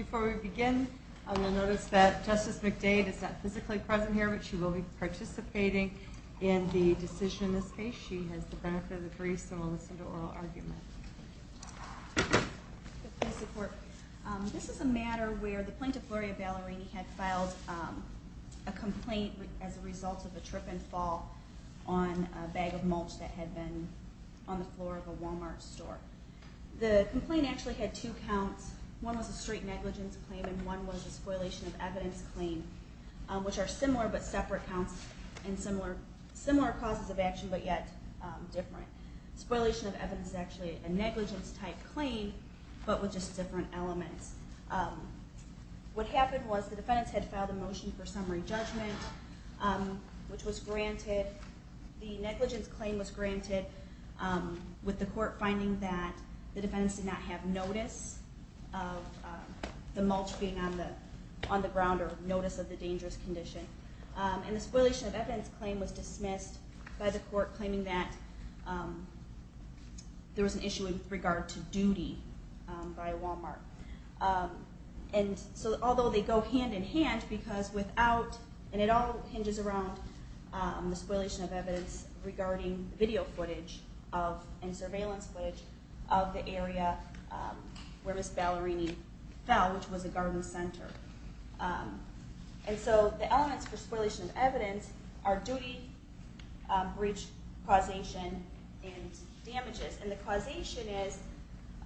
Before we begin, I will notice that Justice McDade is not physically present here, but she will be participating in the decision in this case. She has the benefit of the brief, so we'll listen to oral argument. This is a matter where the plaintiff, Gloria Ballerini, had filed a complaint as a result of a trip and fall on a bag of mulch that had been on the floor of a Wal-Mart store. The complaint actually had two counts. One was a straight negligence claim and one was a spoilation of evidence claim, which are similar but separate counts and similar causes of action, but yet different. Spoilation of evidence is actually a negligence type claim, but with just different elements. What happened was the defendants had filed a motion for summary judgment, which was granted. The negligence claim was granted with the court finding that the defendants did not have notice of the mulch being on the ground or notice of the dangerous condition. The spoilation of evidence claim was dismissed by the court, claiming that there was an issue with regard to duty by a Wal-Mart. Although they go hand in hand, because without, and it all hinges around the spoilation of evidence regarding video footage and surveillance footage of the area where Ms. Ballerini fell, which was a garden center. And so the elements for spoilation of evidence are duty, breach, causation, and damages. And the causation is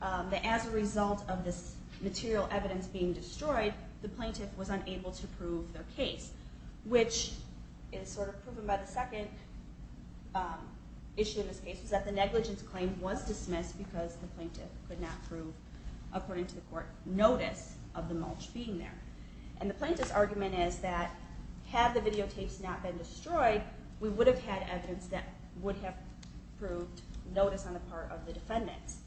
that as a result of this material evidence being destroyed, the plaintiff was unable to prove their case, which is sort of proven by the second issue of this case, which is that the negligence claim was dismissed because the plaintiff could not prove, according to the court, notice of the mulch being there. And the plaintiff's argument is that had the videotapes not been destroyed, we would have had evidence that would have proved notice on the part of the defendants.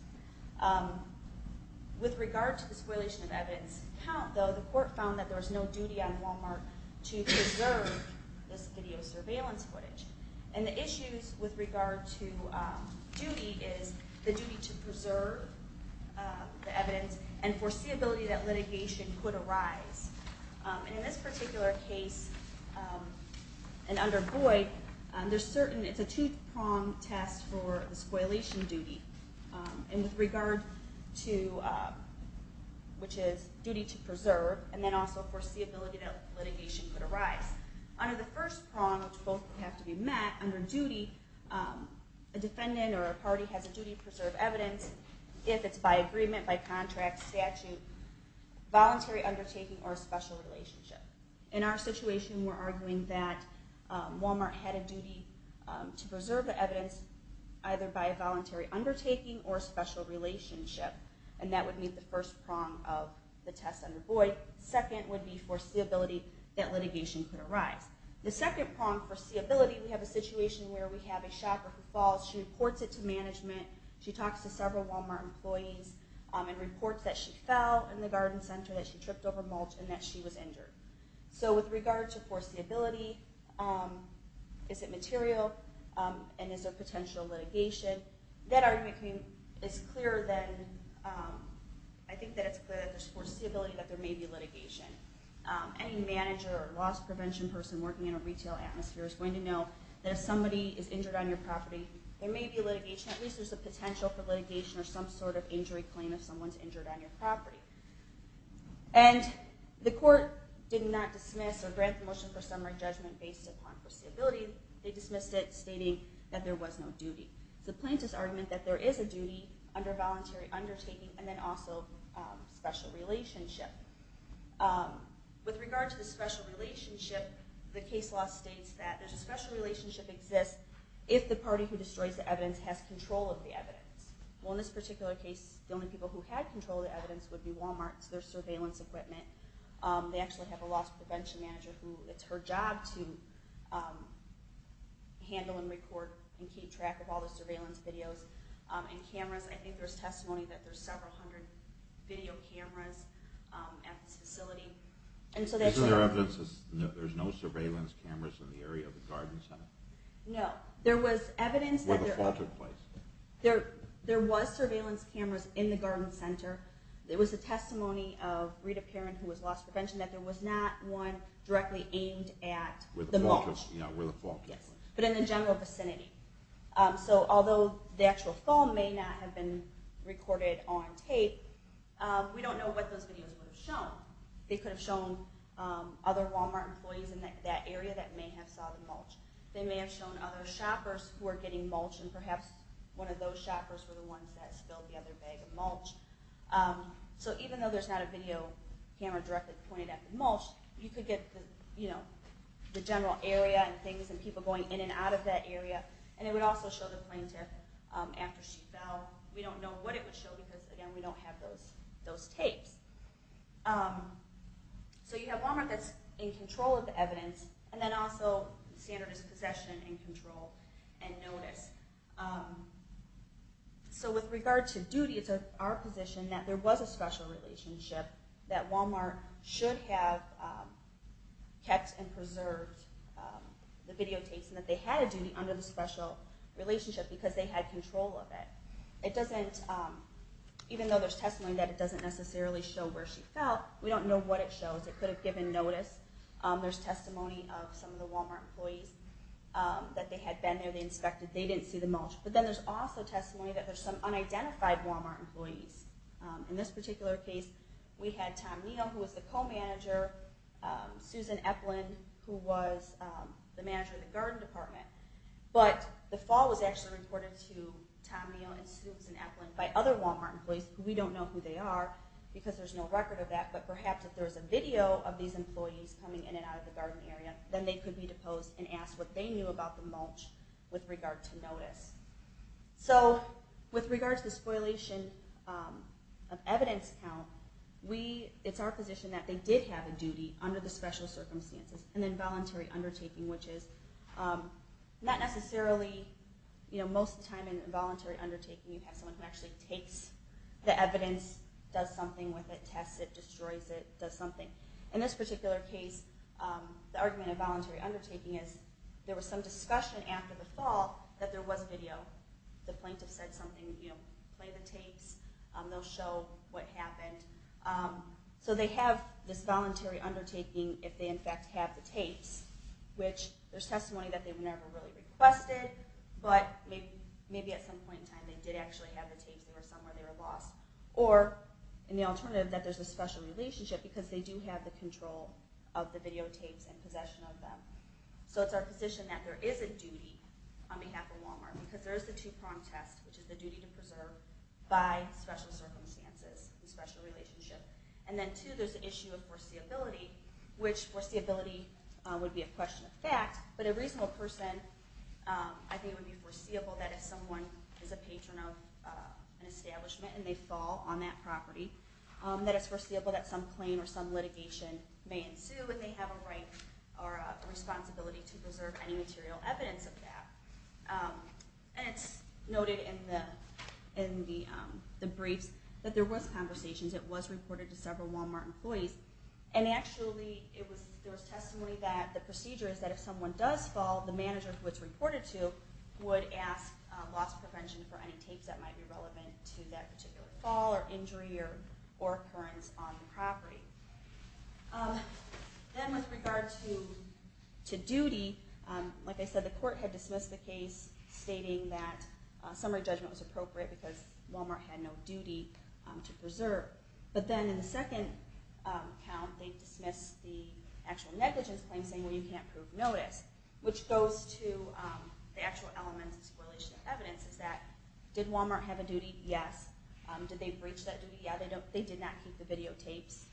With regard to the spoilation of evidence count, though, the court found that there was no duty on Wal-Mart to preserve this video surveillance footage. And the issues with regard to duty is the duty to preserve the evidence and foreseeability that litigation could arise. And in this particular case, and under Boyd, it's a two-pronged test for the spoilation duty, which is duty to preserve and then also foreseeability that litigation could arise. Under the first prong, which both have to be met, under duty, a defendant or a party has a duty to preserve evidence if it's by agreement, by contract, statute, voluntary undertaking, or special relationship. In our situation, we're arguing that Wal-Mart had a duty to preserve the evidence either by voluntary undertaking or special relationship, and that would meet the first prong of the test under Boyd. The second would be foreseeability that litigation could arise. The second prong, foreseeability, we have a situation where we have a shopper who falls. She reports it to management. She talks to several Wal-Mart employees and reports that she fell in the garden center, that she tripped over mulch, and that she was injured. So with regard to foreseeability, is it material, and is there potential litigation, that argument is clearer than, I think that it's clear that there's foreseeability that there may be litigation. Any manager or loss prevention person working in a retail atmosphere is going to know that if somebody is injured on your property, there may be litigation. At least there's a potential for litigation or some sort of injury claim if someone's injured on your property. And the court did not dismiss or grant the motion for summary judgment based upon foreseeability. They dismissed it, stating that there was no duty. So the plaintiff's argument that there is a duty under voluntary undertaking and then also special relationship. With regard to the special relationship, the case law states that there's a special relationship exists if the party who destroys the evidence has control of the evidence. Well, in this particular case, the only people who had control of the evidence would be Wal-Mart. So there's surveillance equipment. They actually have a loss prevention manager who it's her job to handle and record and keep track of all the surveillance videos and cameras. I think there's testimony that there's several hundred video cameras at this facility. Is there evidence that there's no surveillance cameras in the area of the garden center? No. Where the fall took place? There was surveillance cameras in the garden center. There was a testimony of Rita Perrin, who was loss prevention, that there was not one directly aimed at the mulch. Where the fall took place. But in the general vicinity. So although the actual fall may not have been recorded on tape, we don't know what those videos would have shown. They could have shown other Wal-Mart employees in that area that may have saw the mulch. They may have shown other shoppers who were getting mulch. And perhaps one of those shoppers were the ones that spilled the other bag of mulch. So even though there's not a video camera directly pointed at the mulch, you could get the general area and things and people going in and out of that area. And it would also show the planter after she fell. We don't know what it would show because, again, we don't have those tapes. So you have Wal-Mart that's in control of the evidence, and then also standard is possession and control and notice. So with regard to duty, it's our position that there was a special relationship, that Wal-Mart should have kept and preserved the videotapes, and that they had a duty under the special relationship because they had control of it. Even though there's testimony that it doesn't necessarily show where she fell, we don't know what it shows. It could have given notice. There's testimony of some of the Wal-Mart employees that they had been there, they inspected, they didn't see the mulch. But then there's also testimony that there's some unidentified Wal-Mart employees. In this particular case, we had Tom Neal, who was the co-manager, Susan Eplin, who was the manager of the garden department. But the fall was actually reported to Tom Neal and Susan Eplin by other Wal-Mart employees, who we don't know who they are because there's no record of that, but perhaps if there was a video of these employees coming in and out of the garden area, then they could be deposed and asked what they knew about the mulch with regard to notice. So with regard to the spoilation of evidence count, it's our position that they did have a duty under the special circumstances, an involuntary undertaking, which is not necessarily... Most of the time in involuntary undertaking, you have someone who actually takes the evidence, does something with it, tests it, destroys it, does something. In this particular case, the argument of voluntary undertaking is there was some discussion after the fall that there was video. The plaintiff said something, you know, play the tapes, they'll show what happened. So they have this voluntary undertaking if they in fact have the tapes, which there's testimony that they never really requested, but maybe at some point in time they did actually have the tapes, they were somewhere they were lost. Or, in the alternative, that there's a special relationship, because they do have the control of the videotapes and possession of them. So it's our position that there is a duty on behalf of Wal-Mart, because there is the two-prong test, which is the duty to preserve by special circumstances and special relationship. And then two, there's the issue of foreseeability, which foreseeability would be a question of fact, but a reasonable person, I think it would be foreseeable that if someone is a patron of an establishment and they fall on that property, that it's foreseeable that some claim or some litigation may ensue and they have a right or a responsibility to preserve any material evidence of that. And it's noted in the briefs that there was conversations, it was reported to several Wal-Mart employees, and actually there was testimony that the procedure is that if someone does fall, the manager who it's reported to would ask loss prevention for any tapes that might be relevant to that particular fall or injury or occurrence on the property. Then with regard to duty, like I said, the court had dismissed the case, stating that summary judgment was appropriate because Wal-Mart had no duty to preserve. But then in the second count, they dismissed the actual negligence claim, saying, well, you can't prove notice. Which goes to the actual elements of this correlation of evidence is that, did Wal-Mart have a duty? Yes. Did they breach that duty? Yeah. They did not keep the videotapes,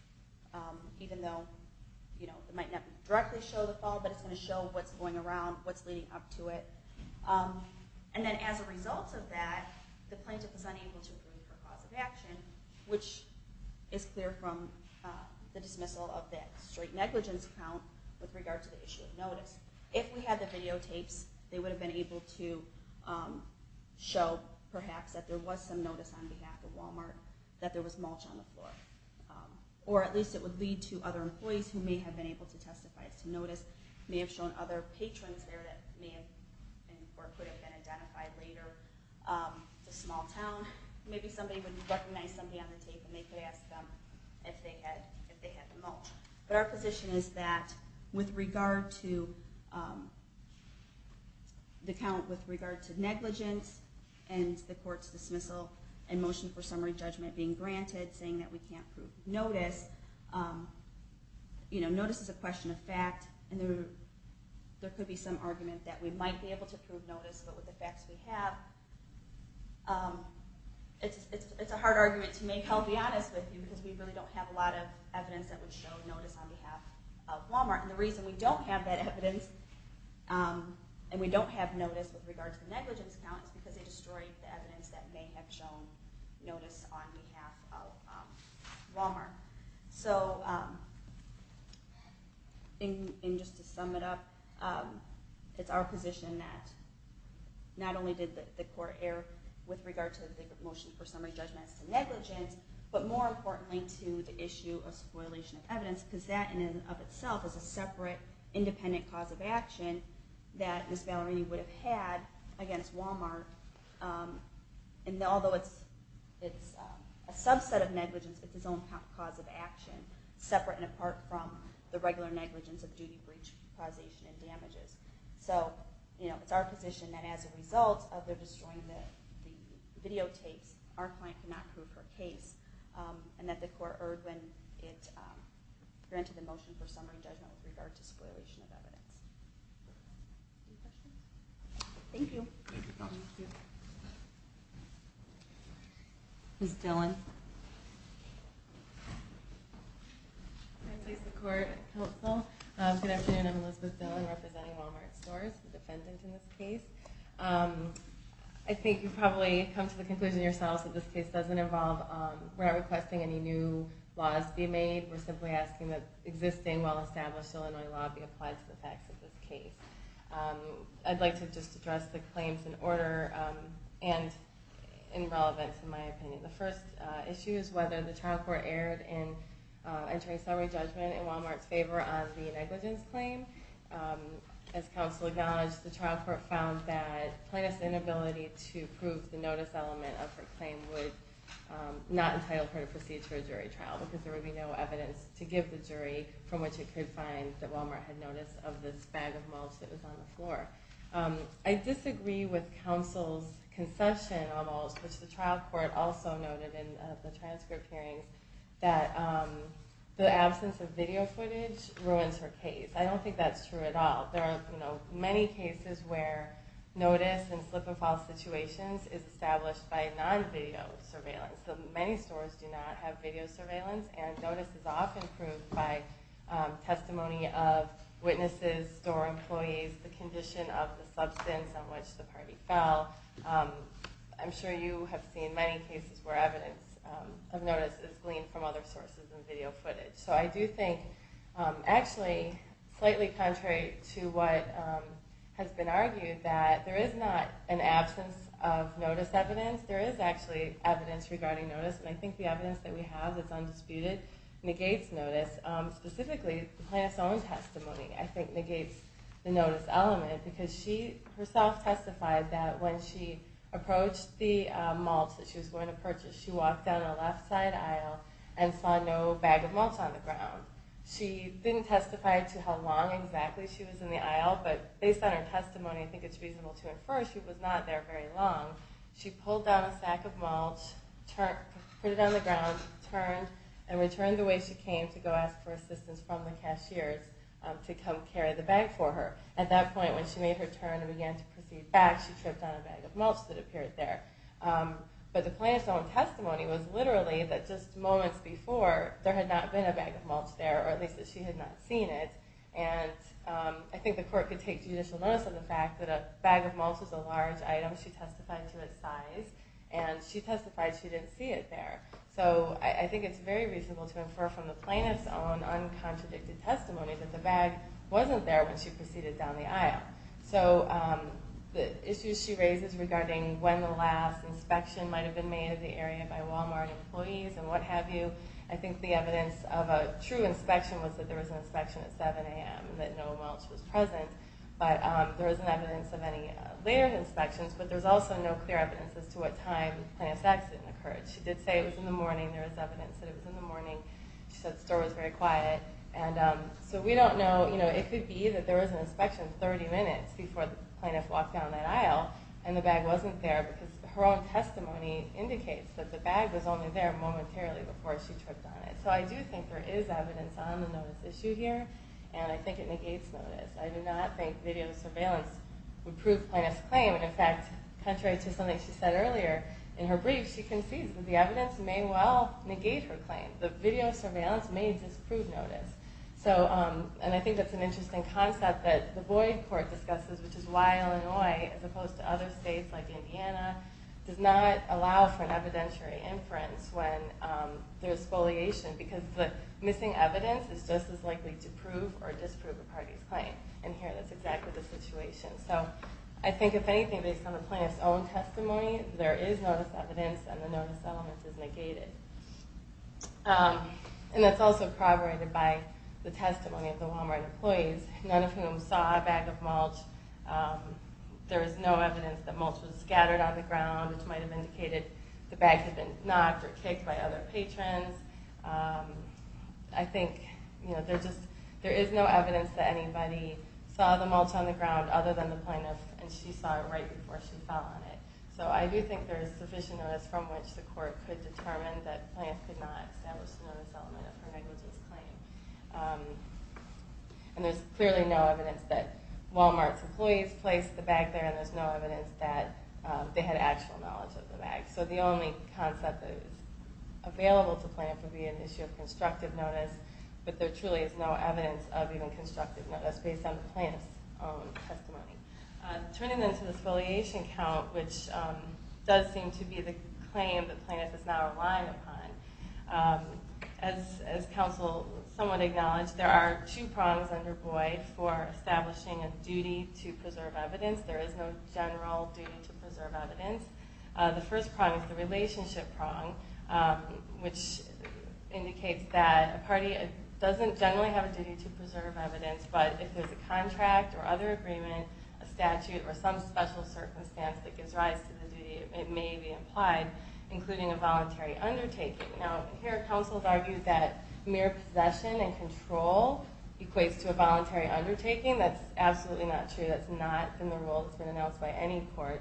even though it might not directly show the fall, but it's going to show what's going around, what's leading up to it. And then as a result of that, the plaintiff was unable to prove her cause of action, which is clear from the dismissal of that straight negligence count with regard to the issue of notice. If we had the videotapes, they would have been able to show, perhaps, that there was some notice on behalf of Wal-Mart that there was mulch on the floor. Or at least it would lead to other employees who may have been able to testify as to notice, may have shown other patrons there that may have been or could have been identified later. It's a small town. Maybe somebody would recognize somebody on the tape and they could ask them if they had the mulch. But our position is that with regard to the count with regard to negligence and the court's dismissal and motion for summary judgment being granted, saying that we can't prove notice, notice is a question of fact, and there could be some argument that we might be able to prove notice, but with the facts we have, it's a hard argument to make. I'll be honest with you, because we really don't have a lot of evidence that would show notice on behalf of Wal-Mart. And the reason we don't have that evidence and we don't have notice with regard to the negligence count is because they destroyed the evidence that may have shown notice on behalf of Wal-Mart. So just to sum it up, it's our position that not only did the court err with regard to the motion for summary judgment as to negligence, but more importantly to the issue of spoilation of evidence, because that in and of itself is a separate independent cause of action that Ms. Ballarini would have had against Wal-Mart. And although it's a subset of negligence, it's its own cause of action, separate and apart from the regular negligence of duty, breach, causation, and damages. So it's our position that as a result of their destroying the videotapes, our client cannot prove her case, and that the court erred when it granted the motion for summary judgment with regard to spoilation of evidence. Any questions? Thank you. Thank you, counsel. Ms. Dillon. Good afternoon. I'm Elizabeth Dillon, representing Wal-Mart Stores, the defendant in this case. I think you've probably come to the conclusion yourselves that this case doesn't involve requesting any new laws be made. We're simply asking that existing, well-established Illinois law be applied to the facts of this case. I'd like to just address the claims in order and in relevance, in my opinion. The first issue is whether the trial court erred in entering summary judgment in Wal-Mart's favor on the negligence claim. As counsel acknowledged, the trial court found that plaintiff's inability to prove the notice element of her claim would not entitle her to proceed to a jury trial because there would be no evidence to give the jury from which it could find that Wal-Mart had notice of this bag of mulch that was on the floor. I disagree with counsel's concession on mulch, which the trial court also noted in the transcript hearings, that the absence of video footage ruins her case. I don't think that's true at all. There are many cases where notice in slip-and-fall situations is established by non-video surveillance. Many stores do not have video surveillance, and notice is often proved by testimony of witnesses, store employees, the condition of the substance on which the party fell. I'm sure you have seen many cases where evidence of notice is gleaned from other sources and video footage. So I do think, actually, slightly contrary to what has been argued, that there is not an absence of notice evidence. There is actually evidence regarding notice, and I think the evidence that we have that's undisputed negates notice. Specifically, the plaintiff's own testimony, I think, negates the notice element because she herself testified that when she approached the mulch that she was going to purchase, she walked down a left-side aisle and saw no bag of mulch on the ground. She didn't testify to how long exactly she was in the aisle, but based on her testimony, I think it's reasonable to infer she was not there very long. She pulled down a sack of mulch, put it on the ground, turned, and returned the way she came to go ask for assistance from the cashiers to come carry the bag for her. At that point, when she made her turn and began to proceed back, she tripped on a bag of mulch that appeared there. But the plaintiff's own testimony was literally that just moments before, there had not been a bag of mulch there, or at least that she had not seen it. And I think the court could take judicial notice of the fact that a bag of mulch was a large item. She testified to its size, and she testified she didn't see it there. So I think it's very reasonable to infer from the plaintiff's own uncontradicted testimony that the bag wasn't there when she proceeded down the aisle. So the issues she raises regarding when the last inspection might have been made of the area by Walmart employees and what have you, I think the evidence of a true inspection was that there was an inspection at 7 a.m., that no mulch was present. But there isn't evidence of any later inspections, but there's also no clear evidence as to what time the plaintiff's accident occurred. She did say it was in the morning. There is evidence that it was in the morning. She said the store was very quiet. So we don't know. It could be that there was an inspection 30 minutes before the plaintiff walked down that aisle and the bag wasn't there, because her own testimony indicates that the bag was only there momentarily before she tripped on it. So I do think there is evidence on the notice issue here, and I think it negates notice. I do not think video surveillance would prove the plaintiff's claim. In fact, contrary to something she said earlier in her brief, she concedes that the evidence may well negate her claim. The video surveillance may disprove notice. And I think that's an interesting concept that the Boyd Court discusses, which is why Illinois, as opposed to other states like Indiana, does not allow for an evidentiary inference when there's spoliation, because the missing evidence is just as likely to prove or disprove a party's claim. And here that's exactly the situation. So I think if anything, based on the plaintiff's own testimony, there is notice evidence, and the notice element is negated. And that's also corroborated by the testimony of the Walmart employees, none of whom saw a bag of mulch. There is no evidence that mulch was scattered on the ground, which might have indicated the bag had been knocked or kicked by other patrons. I think there is no evidence that anybody saw the mulch on the ground other than the plaintiff, and she saw it right before she fell on it. So I do think there is sufficient notice from which the court could determine that the plaintiff could not establish the notice element of her negligence claim. And there's clearly no evidence that Walmart's employees placed the bag there, and there's no evidence that they had actual knowledge of the bag. So the only concept that is available to plaintiff would be an issue of constructive notice, but there truly is no evidence of even constructive notice based on the plaintiff's own testimony. Turning then to the exfoliation count, which does seem to be the claim that plaintiff is now relying upon. As counsel somewhat acknowledged, there are two prongs under Boyd for establishing a duty to preserve evidence. There is no general duty to preserve evidence. The first prong is the relationship prong, which indicates that a party doesn't generally have a duty to preserve evidence, but if there's a contract or other agreement, a statute, or some special circumstance that gives rise to the duty, it may be implied, including a voluntary undertaking. Now, here counsel has argued that mere possession and control equates to a voluntary undertaking. That's absolutely not true. That's not in the rule that's been announced by any court.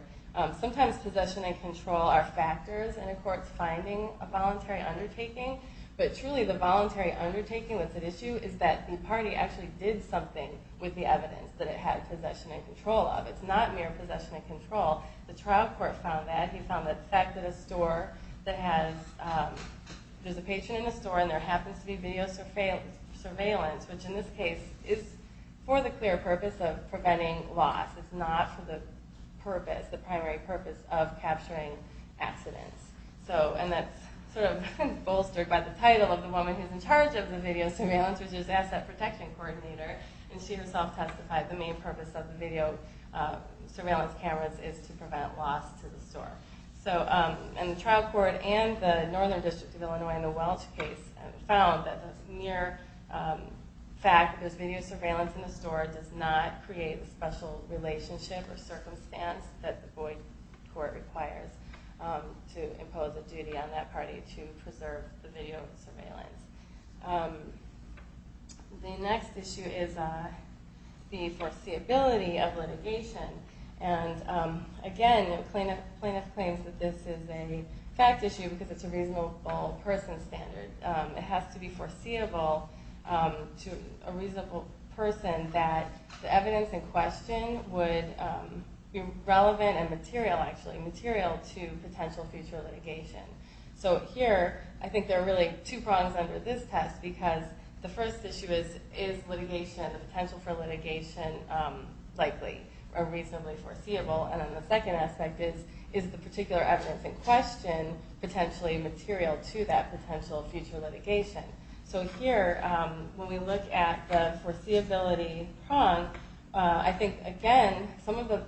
Sometimes possession and control are factors in a court's finding a voluntary undertaking, but truly the voluntary undertaking that's at issue is that the party actually did something with the evidence that it had possession and control of. It's not mere possession and control. The trial court found that. He found that the fact that there's a patient in a store and there happens to be video surveillance, which in this case is for the clear purpose of preventing loss. It's not for the primary purpose of capturing accidents. And that's sort of bolstered by the title of the woman who's in charge of the video surveillance, which is Asset Protection Coordinator, and she herself testified the main purpose of the video surveillance cameras is to prevent loss to the store. And the trial court and the Northern District of Illinois in the Welch case found that the mere fact that there's video surveillance in the store does not create a special relationship or circumstance that the Boyd Court requires to impose a duty on that party to preserve the video surveillance. The next issue is the foreseeability of litigation. And again, plaintiff claims that this is a fact issue because it's a reasonable person standard. It has to be foreseeable to a reasonable person that the evidence in question would be relevant and material, actually, material to potential future litigation. So here, I think there are really two prongs under this test because the first issue is, is litigation and the potential for litigation likely or reasonably foreseeable? And then the second aspect is, is the particular evidence in question potentially material to that potential future litigation? So here, when we look at the foreseeability prong, I think, again, some of the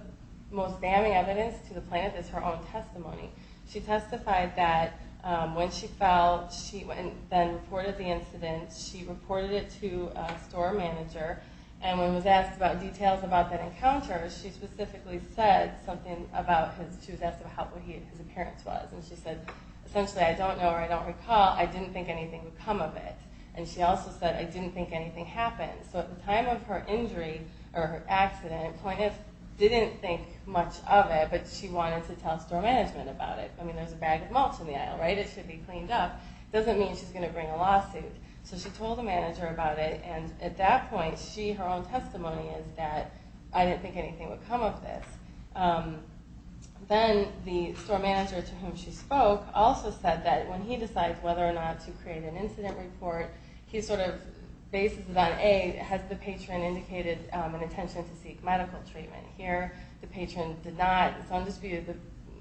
most damning evidence to the plaintiff is her own testimony. She testified that when she fell, she then reported the incident. She reported it to a store manager, and when was asked about details about that encounter, she specifically said something about his, she was asked about how he, his appearance was. And she said, essentially, I don't know or I don't recall. I didn't think anything would come of it. And she also said, I didn't think anything happened. So at the time of her injury or her accident, plaintiff didn't think much of it, but she wanted to tell store management about it. I mean, there's a bag of mulch in the aisle, right? It should be cleaned up. It doesn't mean she's going to bring a lawsuit. So she told the manager about it, and at that point, she, her own testimony is that, I didn't think anything would come of this. Then the store manager to whom she spoke also said that when he decides whether or not to create an incident report, he sort of bases it on, A, has the patron indicated an intention to seek medical treatment? Here, the patron did not, in some dispute,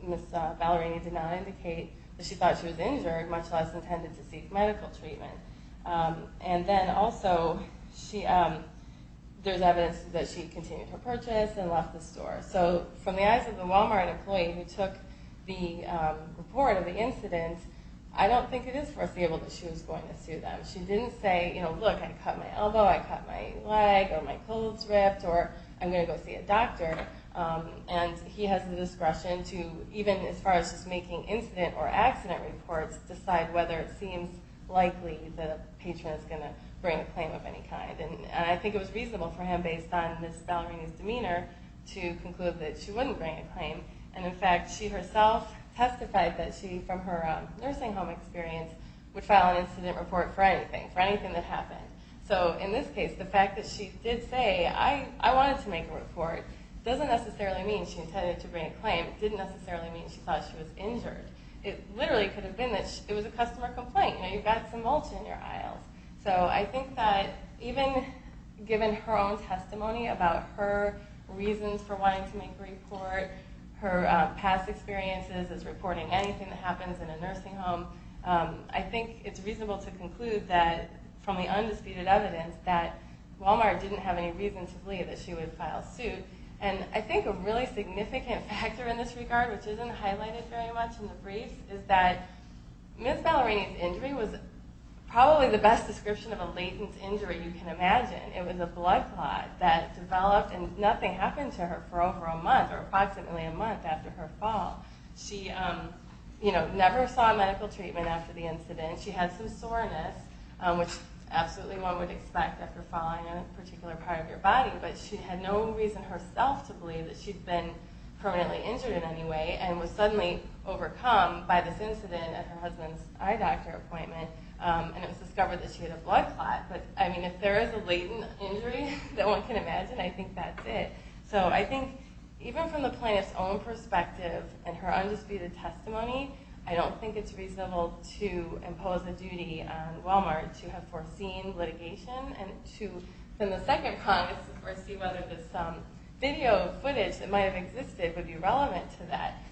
Ms. Ballerini did not indicate that she thought she was injured, much less intended to seek medical treatment. And then also, she, there's evidence that she continued her purchase and left the store. So from the eyes of the Walmart employee who took the report of the incident, I don't think it is foreseeable that she was going to sue them. She didn't say, you know, look, I cut my elbow, I cut my leg, or my clothes ripped, or I'm going to go see a doctor. And he has the discretion to, even as far as just making incident or accident reports, decide whether it seems likely the patron is going to bring a claim of any kind. And I think it was reasonable for him, based on Ms. Ballerini's demeanor, to conclude that she wouldn't bring a claim. And in fact, she herself testified that she, from her nursing home experience, would file an incident report for anything, for anything that happened. So in this case, the fact that she did say, I wanted to make a report, doesn't necessarily mean she intended to bring a claim. It didn't necessarily mean she thought she was injured. It literally could have been that it was a customer complaint. You know, you've got some mulch in your aisles. So I think that even given her own testimony about her reasons for wanting to make a report, her past experiences as reporting anything that happens in a nursing home, I think it's reasonable to conclude that, from the undisputed evidence, that Walmart didn't have any reason to believe that she would file suit. And I think a really significant factor in this regard, which isn't highlighted very much in the briefs, is that Ms. Ballerini's injury was probably the best description of a latent injury you can imagine. It was a blood clot that developed, and nothing happened to her for over a month, or approximately a month after her fall. She, you know, never saw medical treatment after the incident. She had some soreness, which absolutely one would expect after falling on a particular part of your body, but she had no reason herself to believe that she'd been permanently injured in any way, and was suddenly overcome by this incident at her husband's eye doctor appointment, and it was discovered that she had a blood clot. But, I mean, if there is a latent injury that one can imagine, I think that's it. So I think, even from the plaintiff's own perspective and her undisputed testimony, I don't think it's reasonable to impose a duty on Walmart to have foreseen litigation, and to, in the Second Congress, foresee whether this video footage that might have existed would be relevant to that.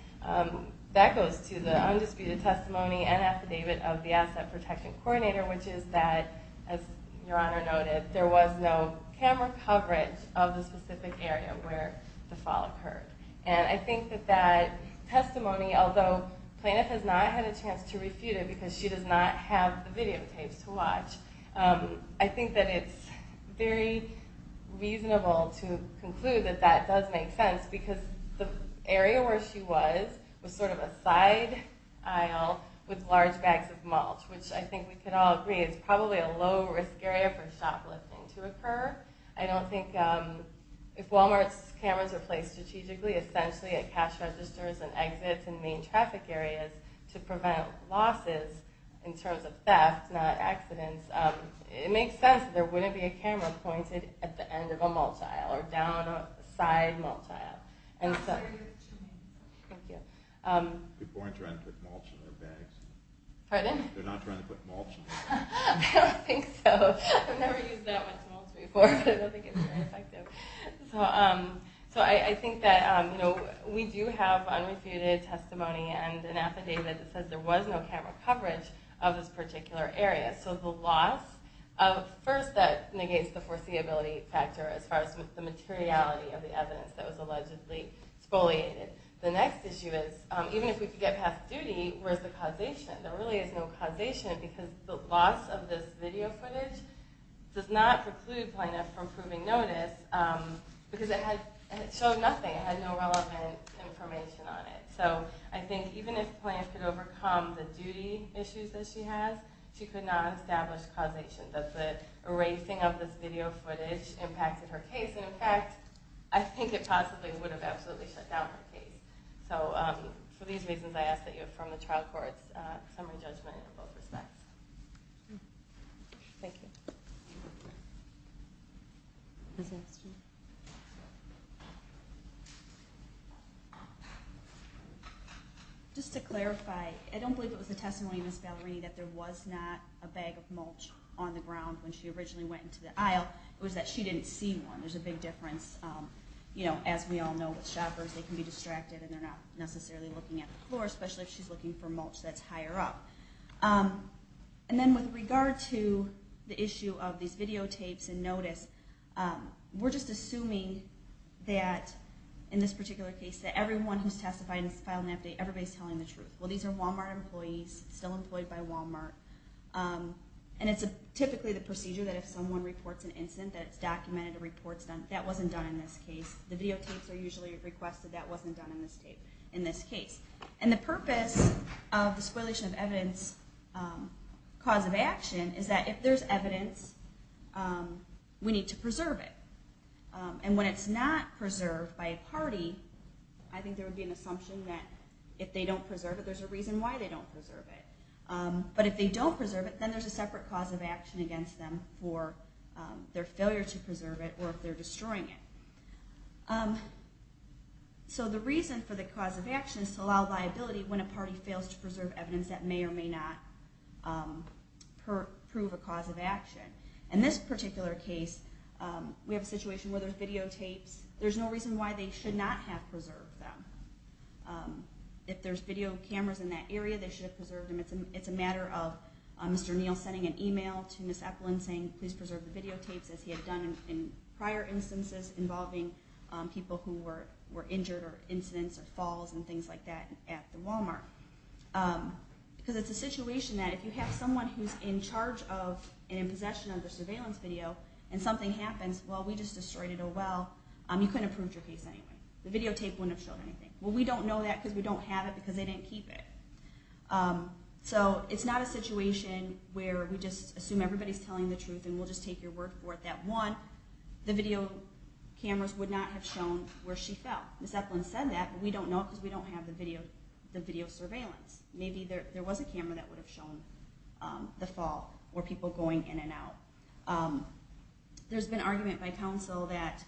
That goes to the undisputed testimony and affidavit of the asset protection coordinator, which is that, as Your Honor noted, there was no camera coverage of the specific area where the fall occurred. And I think that that testimony, although plaintiff has not had a chance to refute it because she does not have the videotapes to watch, I think that it's very reasonable to conclude that that does make sense, because the area where she was was sort of a side aisle with large bags of mulch, which I think we can all agree is probably a low-risk area for shoplifting to occur. I don't think if Walmart's cameras were placed strategically, essentially at cash registers and exits and main traffic areas, to prevent losses in terms of theft, not accidents, it makes sense that there wouldn't be a camera pointed at the end of a mulch aisle or down a side mulch aisle. Thank you. People aren't trying to put mulch in their bags. Pardon? They're not trying to put mulch in their bags. I don't think so. I've never used that much mulch before, but I don't think it's very effective. So I think that we do have unrefuted testimony and an affidavit that says there was no camera coverage of this particular area. So the loss, first, that negates the foreseeability factor as far as the materiality of the evidence that was allegedly spoliated. The next issue is, even if we could get past duty, where's the causation? There really is no causation, because the loss of this video footage does not preclude Plaintiff from proving notice, because it showed nothing. It had no relevant information on it. So I think even if Plaintiff could overcome the duty issues that she has, she could not establish causation, that the erasing of this video footage impacted her case. And in fact, I think it possibly would have absolutely shut down her case. So for these reasons, I ask that you affirm the trial court's summary judgment in both respects. Thank you. Just to clarify, I don't believe it was the testimony of Ms. Valerini that there was not a bag of mulch on the ground when she originally went into the aisle. It was that she didn't see one. There's a big difference. As we all know with shoppers, they can be distracted and they're not necessarily looking at the floor, especially if she's looking for mulch that's higher up. And then with regard to the issue of these videotapes and notice, we're just assuming that, in this particular case, that everyone who's testified and has filed an update, everybody's telling the truth. Well, these are Walmart employees, still employed by Walmart. And it's typically the procedure that if someone reports an incident, that it's documented, a report's done. That wasn't done in this case. The videotapes are usually requested. That wasn't done in this case. And the purpose of the Spoilation of Evidence cause of action is that if there's evidence, we need to preserve it. And when it's not preserved by a party, I think there would be an assumption that if they don't preserve it, there's a reason why they don't preserve it. But if they don't preserve it, then there's a separate cause of action against them for their failure to preserve it or if they're destroying it. So the reason for the cause of action is to allow liability when a party fails to preserve evidence that may or may not prove a cause of action. In this particular case, we have a situation where there's videotapes. There's no reason why they should not have preserved them. If there's video cameras in that area, they should have preserved them. It's a matter of Mr. Neal sending an email to Ms. Eplin saying, please preserve the videotapes, as he had done in prior instances involving people who were injured or incidents or falls and things like that at the Walmart. Because it's a situation that if you have someone who's in charge of and in possession of the surveillance video and something happens, well, we just destroyed it oh well, you couldn't have proved your case anyway. The videotape wouldn't have shown anything. Well, we don't know that because we don't have it because they didn't keep it. So it's not a situation where we just assume everybody's telling the truth and we'll just take your word for it that one, the video cameras would not have shown where she fell. Ms. Eplin said that, but we don't know because we don't have the video surveillance. Maybe there was a camera that would have shown the fall or people going in and out. There's been argument by counsel that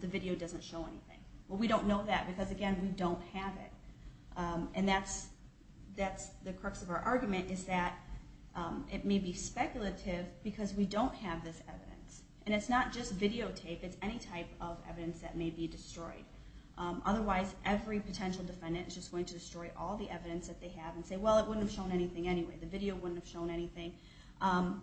the video doesn't show anything. Well, we don't know that because again, we don't have it. And that's the crux of our argument is that it may be speculative because we don't have this evidence. And it's not just videotape. It's any type of evidence that may be destroyed. Otherwise, every potential defendant is just going to destroy all the evidence that they have and say, well, it wouldn't have shown anything anyway. The video wouldn't have shown anything.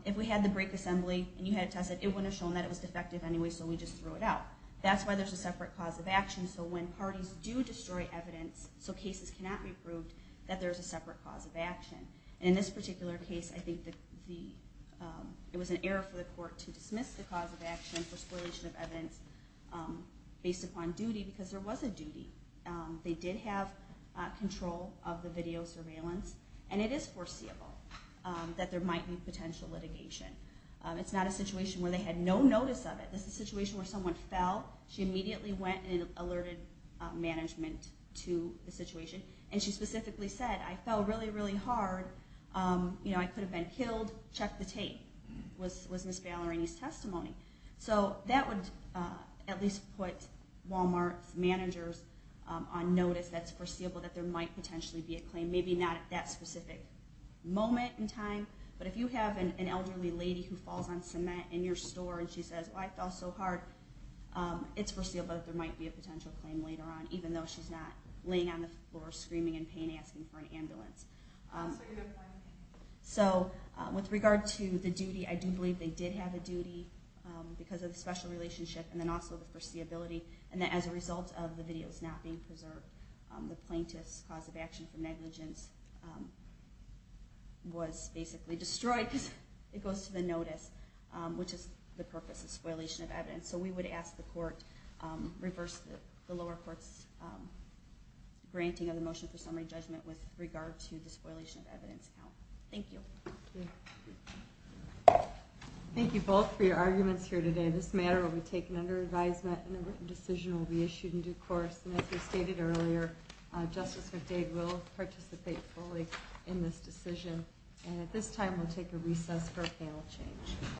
If we had the break assembly and you had it tested, it wouldn't have shown that it was defective anyway, so we just threw it out. That's why there's a separate cause of action. So when parties do destroy evidence, so cases cannot be proved, that there's a separate cause of action. In this particular case, I think it was an error for the court to dismiss the cause of action for spoliation of evidence based upon duty because there was a duty. They did have control of the video surveillance. And it is foreseeable that there might be potential litigation. It's not a situation where they had no notice of it. This is a situation where someone fell. She immediately went and alerted management to the situation. And she specifically said, I fell really, really hard. I could have been killed. Check the tape. Was Miss Ballerini's testimony. So that would at least put Walmart's managers on notice that it's foreseeable that there might potentially be a claim. Maybe not at that specific moment in time, but if you have an elderly lady who falls on cement in your store and she says, I fell so hard, it's foreseeable that there might be a potential claim later on, even though she's not laying on the floor screaming in pain asking for an ambulance. So with regard to the duty, I do believe they did have a duty because of the special relationship and then also the foreseeability. And as a result of the videos not being preserved, the plaintiff's cause of action for negligence was basically destroyed because it goes to the notice, which is the purpose of spoilation of evidence. So we would ask the court, reverse the lower court's granting of the motion for summary judgment with regard to the spoilation of evidence count. Thank you. Thank you both for your arguments here today. This matter will be taken under advisement and the written decision will be issued in due course. And as we stated earlier, Justice McDade will participate fully in this decision. And at this time, we'll take a recess for panel change.